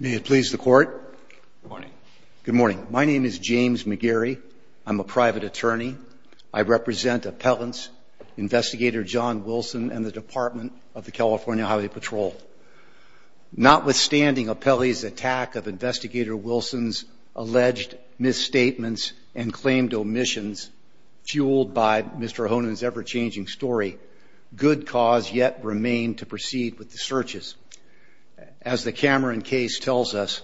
May it please the Court. Good morning. Good morning. My name is James McGarry. I'm a private attorney. I represent appellants, Investigator John Wilson and the Department of the California Highway Patrol. Notwithstanding appellees' attack of Investigator Wilson's alleged misstatements and claimed omissions, fueled by Mr. Honan's ever-changing story, good cause yet remained to proceed with the searches. As the Cameron case tells us,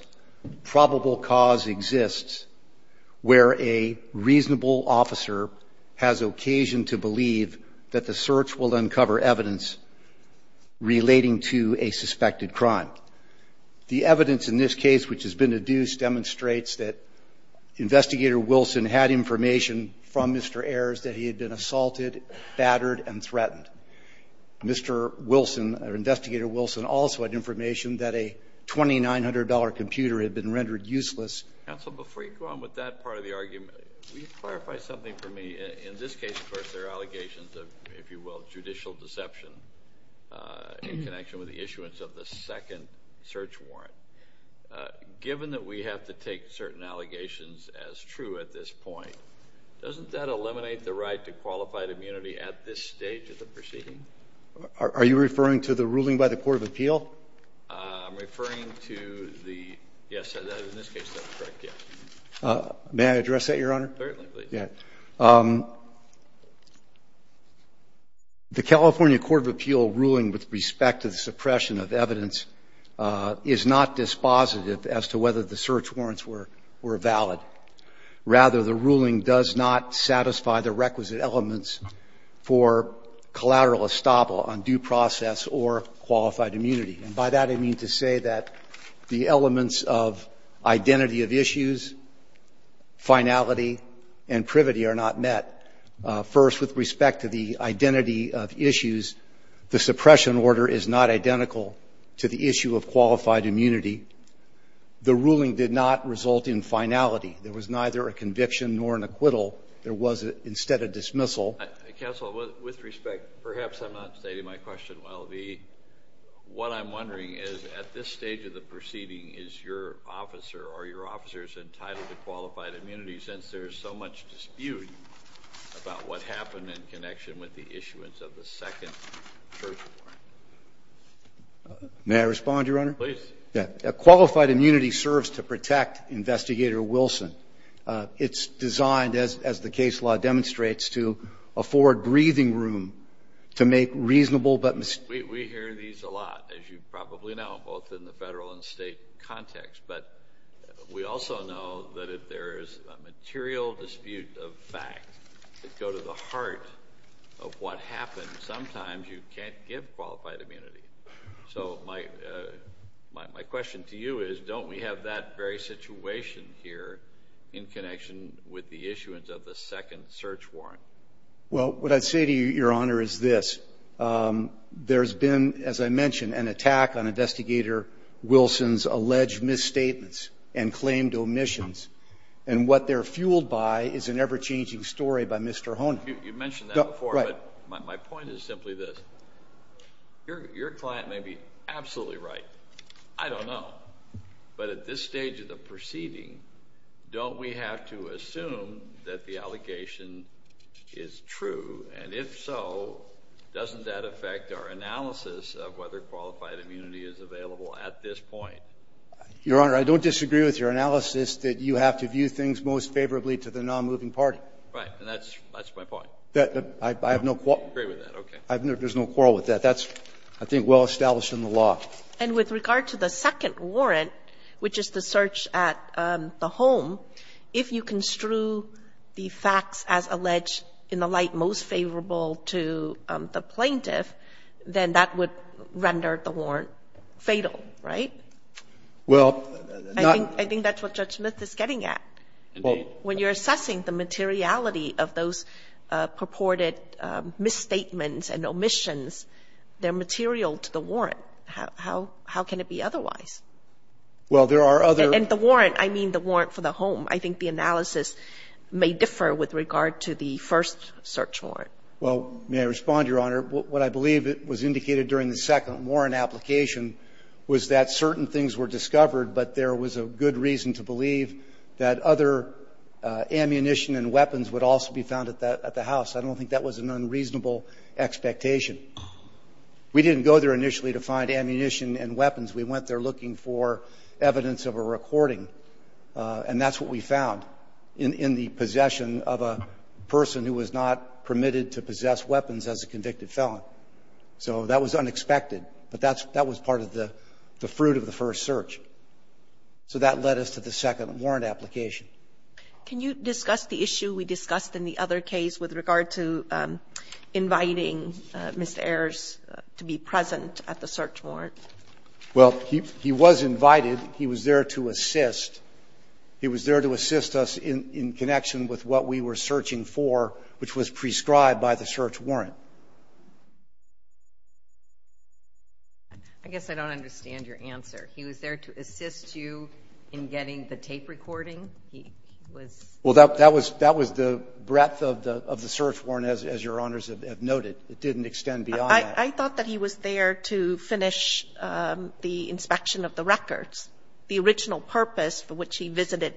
probable cause exists where a reasonable officer has occasion to believe that the search will uncover evidence relating to a suspected crime. The evidence in this case, which has been deduced, demonstrates that Investigator Wilson had information from Mr. Ayers that he had been assaulted, battered, and threatened. Mr. Wilson, or Investigator Wilson, also had information that a $2,900 computer had been rendered useless. Counsel, before you go on with that part of the argument, will you clarify something for me? In this case, of course, there are allegations of, if you will, judicial deception in connection with the issuance of the second search warrant. Given that we have to take certain allegations as true at this point, doesn't that eliminate the right to qualified immunity at this stage of the proceeding? Are you referring to the ruling by the Court of Appeal? I'm referring to the, yes, in this case, that's correct, yes. May I address that, Your Honor? Certainly, please. Yeah. The California Court of Appeal ruling with respect to the suppression of evidence is not dispositive as to whether the search warrants were valid. Rather, the ruling does not satisfy the requisite elements for collateral estoppel on due process or qualified immunity. And by that, I mean to say that the elements of identity of issues, finality, and privity are not met. First, with respect to the identity of issues, the suppression order is not identical to the issue of qualified immunity. The ruling did not result in finality. There was neither a conviction nor an acquittal. There was instead a dismissal. Counsel, with respect, perhaps I'm not stating my question well. What I'm wondering is, at this stage of the proceeding, is your officer, are your officers entitled to qualified immunity since there is so much dispute about what May I respond, Your Honor? Please. Yeah. Qualified immunity serves to protect Investigator Wilson. It's designed, as the case law demonstrates, to afford breathing room to make reasonable but mis- We hear these a lot, as you probably know, both in the Federal and State context. But we also know that if there is a material dispute of fact that go to the heart of what happened, sometimes you can't give qualified immunity. So my question to you is, don't we have that very situation here in connection with the issuance of the second search warrant? Well, what I'd say to you, Your Honor, is this. There's been, as I mentioned, an attack on Investigator Wilson's alleged misstatements and claimed omissions. And what they're fueled by is an ever-changing story by Mr. Hone. You mentioned that before. But my point is simply this. Your client may be absolutely right. I don't know. But at this stage of the proceeding, don't we have to assume that the allegation is true? And if so, doesn't that affect our analysis of whether qualified immunity is available at this point? Your Honor, I don't disagree with your analysis that you have to view things most favorably to the non-moving party. Right. And that's my point. I have no quarrel. I agree with that. Okay. There's no quarrel with that. That's, I think, well established in the law. And with regard to the second warrant, which is the search at the home, if you construe the facts as alleged in the light most favorable to the plaintiff, then that would render the warrant fatal, right? Well, not the plaintiff. I think that's what Judge Smith is getting at. Indeed. When you're assessing the materiality of those purported misstatements and omissions, they're material to the warrant. How can it be otherwise? Well, there are other ---- And the warrant, I mean the warrant for the home. I think the analysis may differ with regard to the first search warrant. Well, may I respond, Your Honor? What I believe was indicated during the second warrant application was that certain things were discovered, but there was a good reason to believe that other ammunition and weapons would also be found at the house. I don't think that was an unreasonable expectation. We didn't go there initially to find ammunition and weapons. We went there looking for evidence of a recording. And that's what we found in the possession of a person who was not permitted to possess weapons as a convicted felon. So that was unexpected. But that was part of the fruit of the first search. So that led us to the second warrant application. Can you discuss the issue we discussed in the other case with regard to inviting Mr. Ayers to be present at the search warrant? Well, he was invited. He was there to assist. He was there to assist us in connection with what we were searching for, which was I guess I don't understand your answer. He was there to assist you in getting the tape recording? He was? Well, that was the breadth of the search warrant, as Your Honors have noted. It didn't extend beyond that. I thought that he was there to finish the inspection of the records, the original purpose for which he visited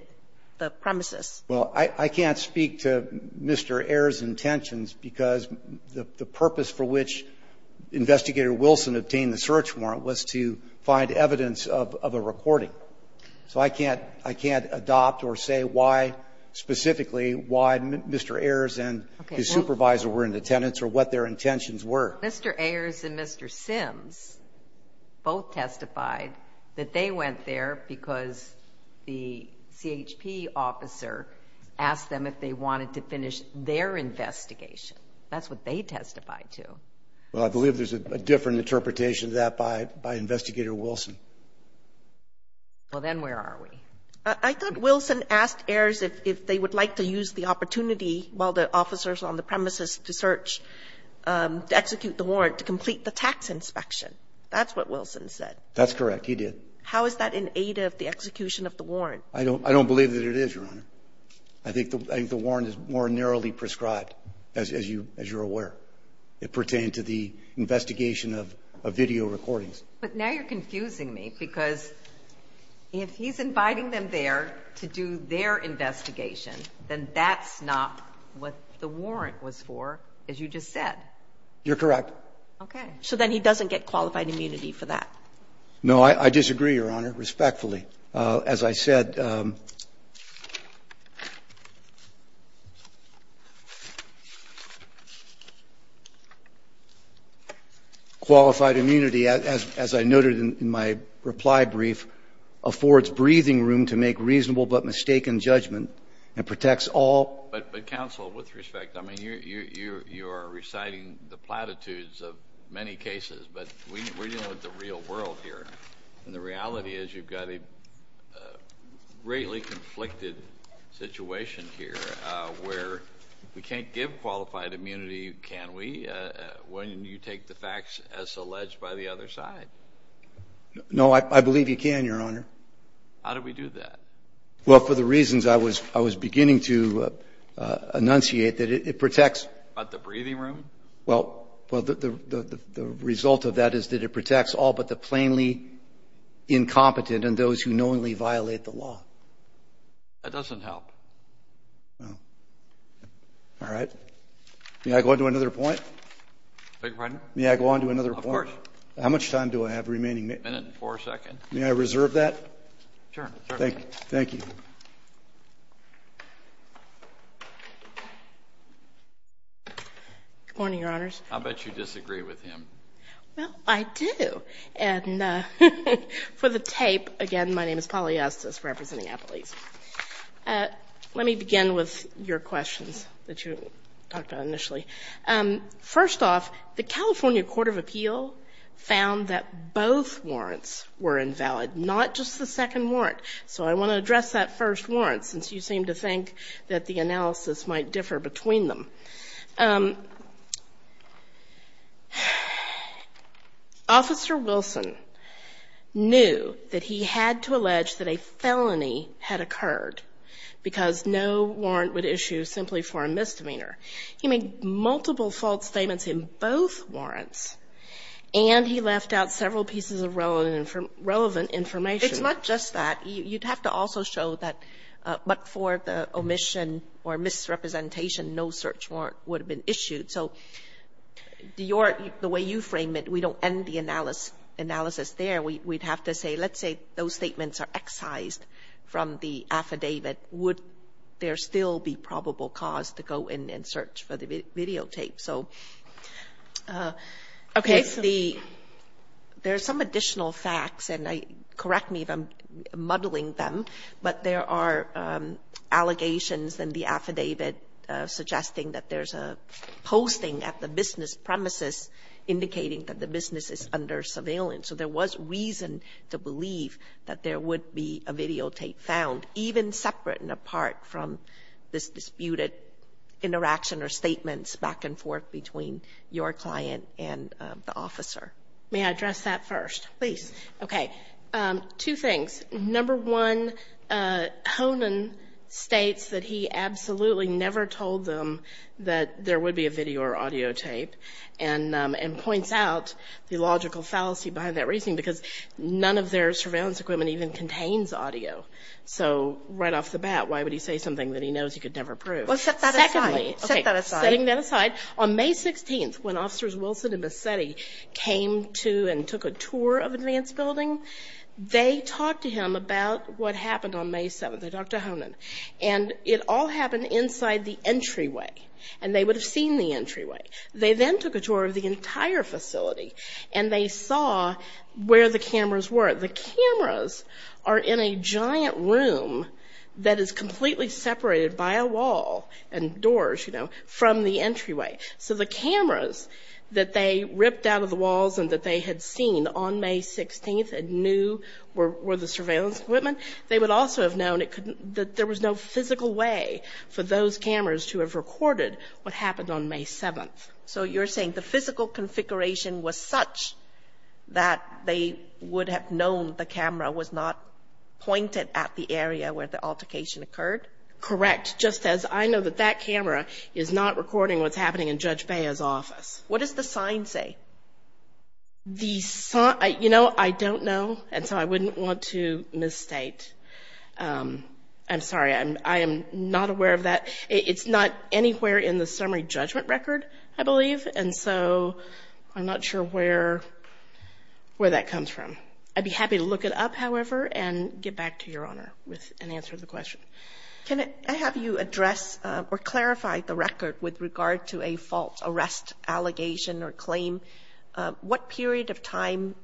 the premises. Well, I can't speak to Mr. Ayers' intentions because the purpose for which Investigator Wilson obtained the search warrant was to find evidence of a recording. So I can't adopt or say why specifically why Mr. Ayers and his supervisor were in attendance or what their intentions were. Mr. Ayers and Mr. Sims both testified that they went there because the CHP officer asked them if they wanted to finish their investigation. That's what they testified to. Well, I believe there's a different interpretation of that by Investigator Wilson. Well, then where are we? I thought Wilson asked Ayers if they would like to use the opportunity while the officers are on the premises to search, to execute the warrant, to complete the tax inspection. That's what Wilson said. That's correct. He did. How is that in aid of the execution of the warrant? I don't believe that it is, Your Honor. I think the warrant is more narrowly prescribed, as you're aware. It pertained to the investigation of video recordings. But now you're confusing me because if he's inviting them there to do their investigation, then that's not what the warrant was for, as you just said. You're correct. Okay. So then he doesn't get qualified immunity for that? No. I disagree, Your Honor, respectfully. As I said, qualified immunity, as I noted in my reply brief, affords breathing room to make reasonable but mistaken judgment and protects all. But, counsel, with respect, I mean, you are reciting the platitudes of many cases, but we're dealing with the real world here. And the reality is you've got a greatly conflicted situation here where we can't give qualified immunity, can we, when you take the facts as alleged by the other side? No, I believe you can, Your Honor. How do we do that? Well, for the reasons I was beginning to enunciate, that it protects. But the breathing room? Well, the result of that is that it protects all but the plainly incompetent and those who knowingly violate the law. That doesn't help. No. All right. May I go on to another point? Beg your pardon? May I go on to another point? Of course. How much time do I have remaining? A minute and four seconds. May I reserve that? Sure. Thank you. Good morning, Your Honors. I bet you disagree with him. Well, I do. And for the tape, again, my name is Polly Estes representing Apple East. Let me begin with your questions that you talked about initially. First off, the California Court of Appeal found that both warrants were invalid, not just the second warrant. So I want to address that first warrant, since you seem to think that the analysis might differ between them. Officer Wilson knew that he had to allege that a felony had occurred because no warrant would issue simply for a misdemeanor. He made multiple false statements in both warrants, and he left out several pieces of relevant information. It's not just that. You'd have to also show that but for the omission or misrepresentation, no search warrant would have been issued. So the way you frame it, we don't end the analysis there. We'd have to say, let's say those statements are excised from the affidavit. Would there still be probable cause to go in and search for the videotape? So there's some additional facts, and correct me if I'm muddling them, but there are allegations in the affidavit suggesting that there's a posting at the business premises indicating that the business is under surveillance. So there was reason to believe that there would be a videotape found, even separate and apart from this disputed interaction or statements back and forth between your client and the officer. May I address that first, please? Okay. Two things. Number one, Honan states that he absolutely never told them that there would be a video or audio tape and points out the logical fallacy behind that reasoning because none of their surveillance equipment even contains audio. So right off the bat, why would he say something that he knows he could never prove? Well, set that aside. Okay. Setting that aside. On May 16th, when Officers Wilson and Bassetti came to and took a tour of Advance Building, they talked to him about what happened on May 7th. They talked to Honan. And it all happened inside the entryway, and they would have seen the entryway. They then took a tour of the entire facility, and they saw where the cameras were. The cameras are in a giant room that is completely separated by a wall and doors, you know, from the entryway. So the cameras that they ripped out of the walls and that they had seen on May 16th and knew were the surveillance equipment, they would also have known that there was no physical way for those cameras to have recorded what happened on May 7th. So you're saying the physical configuration was such that they would have known the camera was not pointed at the area where the altercation occurred? Correct. Just as I know that that camera is not recording what's happening in Judge Bea's office. What does the sign say? The sign, you know, I don't know, and so I wouldn't want to misstate. I'm sorry. I am not aware of that. It's not anywhere in the summary judgment record, I believe, and so I'm not sure where that comes from. I'd be happy to look it up, however, and get back to Your Honor with an answer to the question. Can I have you address or clarify the record with regard to a false arrest allegation or claim? What period of time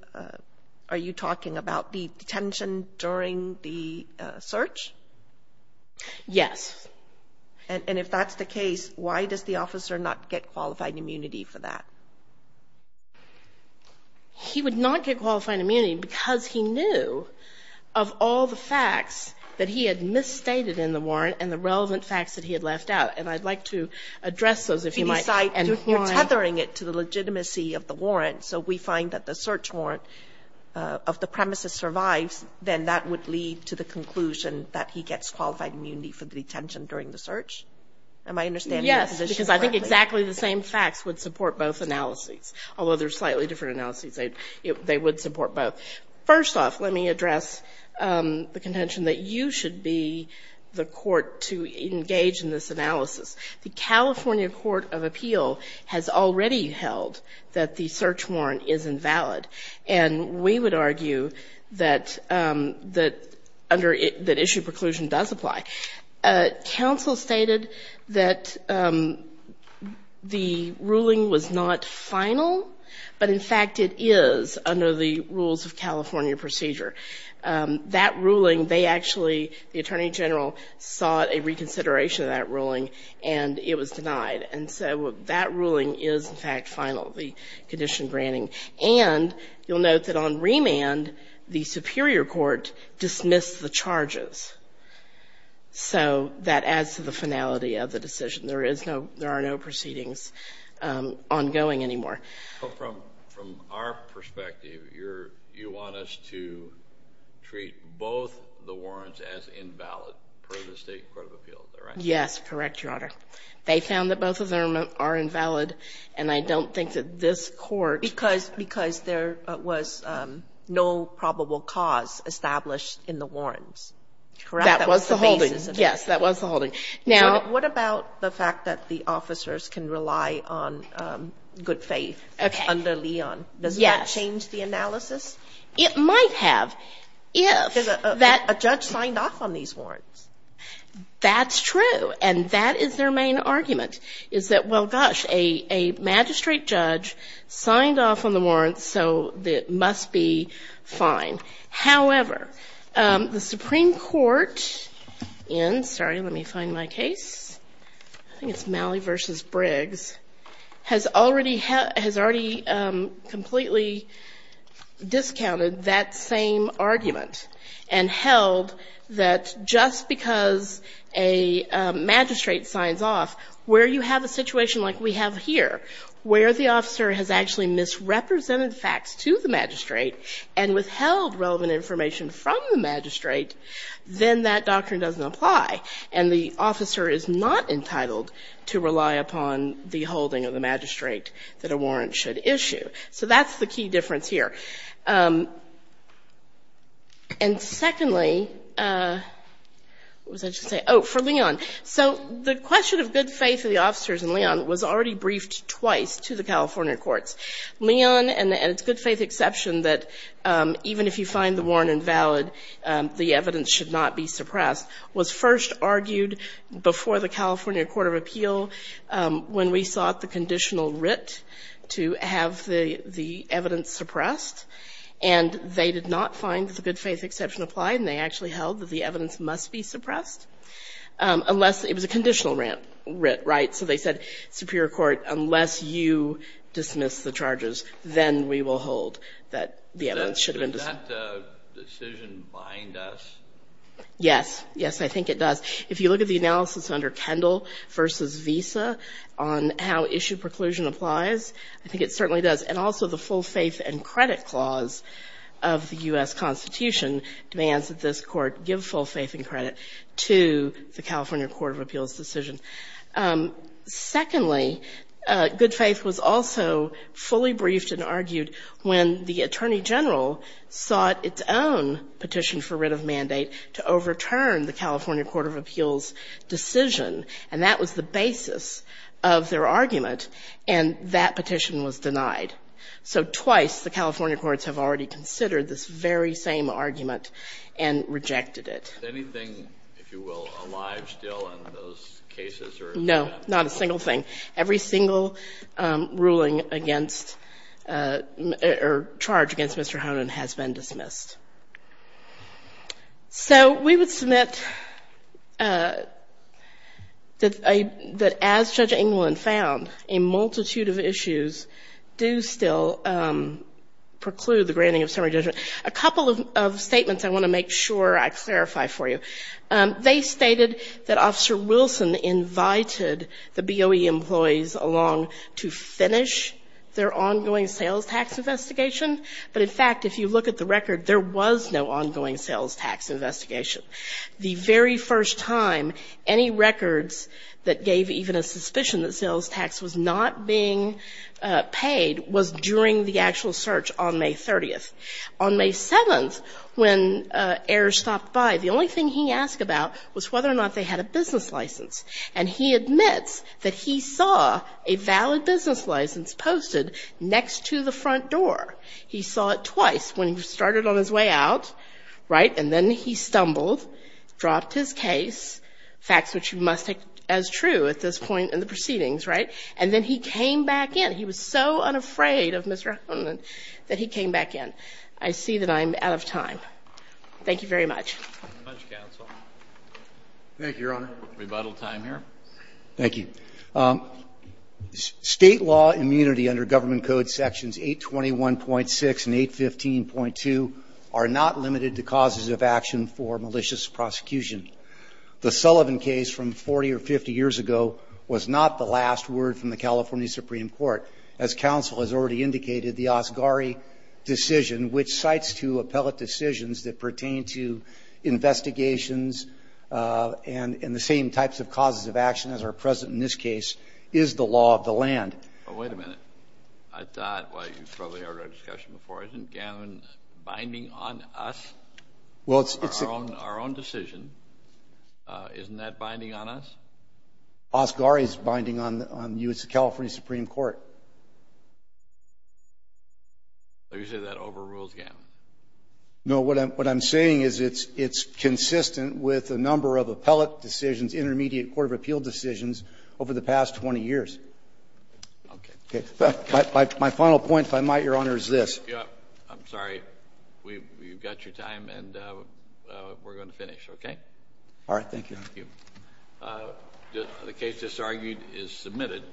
are you talking about, the detention during the search? Yes. And if that's the case, why does the officer not get qualified immunity for that? He would not get qualified immunity because he knew of all the facts that he had misstated in the warrant and the relevant facts that he had left out, and I'd like to address those, if you might, and why. You're tethering it to the legitimacy of the warrant, so we find that the search warrant of the premises survives, then that would lead to the conclusion that he gets qualified immunity for the detention during the search? Am I understanding your position correctly? Yes, because I think exactly the same facts would support both analyses, although they're slightly different analyses. They would support both. First off, let me address the contention that you should be the court to engage in this analysis. The California Court of Appeal has already held that the search warrant is invalid, and we would argue that issue preclusion does apply. Counsel stated that the ruling was not final, but, in fact, it is under the rules of California procedure. That ruling, they actually, the Attorney General, sought a reconsideration of that ruling, and it was denied, and so that ruling is, in fact, final, the condition granting. And you'll note that on remand, the superior court dismissed the charges, so that adds to the finality of the decision. There is no, there are no proceedings ongoing anymore. But from our perspective, you want us to treat both the warrants as invalid per the State Court of Appeal, is that right? Yes, correct, Your Honor. They found that both of them are invalid, and I don't think that this court Because there was no probable cause established in the warrants, correct? That was the holding. Yes, that was the holding. Now What about the fact that the officers can rely on good faith under Leon? Yes. Does that change the analysis? It might have, if that A judge signed off on these warrants. That's true, and that is their main argument, is that, well, gosh, a magistrate judge signed off on the warrants, so it must be fine. However, the Supreme Court in, sorry, let me find my case, I think it's Malley v. Briggs, has already, has already completely discounted that same argument and held that just because a magistrate signs off, where you have a situation like we have here, where the officer has actually misrepresented facts to the magistrate and withheld relevant information from the magistrate, then that doctrine doesn't apply, and the officer is not entitled to rely upon the holding of the magistrate that a warrant should issue. So that's the key difference here. And secondly, what was I just saying? Oh, for Leon. So the question of good faith of the officers in Leon was already briefed twice to the California courts. Leon and its good faith exception that even if you find the warrant invalid, the evidence should not be suppressed, was first argued before the California Court of Appeal when we sought the conditional writ to have the evidence suppressed, and they did not find that the good faith exception applied, and they actually held that the evidence must be suppressed. Unless it was a conditional writ, right? So they said, Superior Court, unless you dismiss the charges, then we will hold that the evidence should have been dismissed. Does that decision bind us? Yes. Yes, I think it does. If you look at the analysis under Kendall v. Visa on how issue preclusion applies, I think it certainly does. And also the full faith and credit clause of the U.S. to the California Court of Appeals decision. Secondly, good faith was also fully briefed and argued when the attorney general sought its own petition for writ of mandate to overturn the California Court of Appeals decision, and that was the basis of their argument, and that petition was denied. So twice the California courts have already considered this very same argument and rejected it. Is anything, if you will, alive still in those cases? No, not a single thing. Every single ruling against or charge against Mr. Honan has been dismissed. So we would submit that as Judge Englund found, a multitude of issues do still preclude the granting of summary judgment. A couple of statements I want to make sure I clarify for you. They stated that Officer Wilson invited the BOE employees along to finish their ongoing sales tax investigation, but, in fact, if you look at the record, there was no ongoing sales tax investigation. The very first time any records that gave even a suspicion that sales tax was not being paid was during the actual search on May 30th. On May 7th, when heirs stopped by, the only thing he asked about was whether or not they had a business license. And he admits that he saw a valid business license posted next to the front door. He saw it twice, when he started on his way out, right, and then he stumbled, dropped his case, facts which you must take as true at this point in the proceedings, right, and then he came back in. He was so unafraid of Mr. Honan that he came back in. I see that I'm out of time. Thank you very much. Roberts. Thank you, Your Honor. Rebuttal time here. Thank you. State law immunity under Government Code Sections 821.6 and 815.2 are not limited to causes of action for malicious prosecution. The Sullivan case from 40 or 50 years ago was not the last word from the California Supreme Court. As counsel has already indicated, the Asghari decision, which cites two appellate decisions that pertain to investigations and the same types of causes of action as are present in this case, is the law of the land. Well, wait a minute. I thought, well, you've probably heard our discussion before. Isn't Gannon binding on us, our own decision? Isn't that binding on us? Asghari is binding on you. It's the California Supreme Court. So you say that overrules Gannon? No, what I'm saying is it's consistent with a number of appellate decisions, intermediate court of appeal decisions over the past 20 years. Okay. My final point, if I might, Your Honor, is this. I'm sorry. We've got your time, and we're going to finish, okay? All right. Thank you. Thank you. The case that's argued is submitted.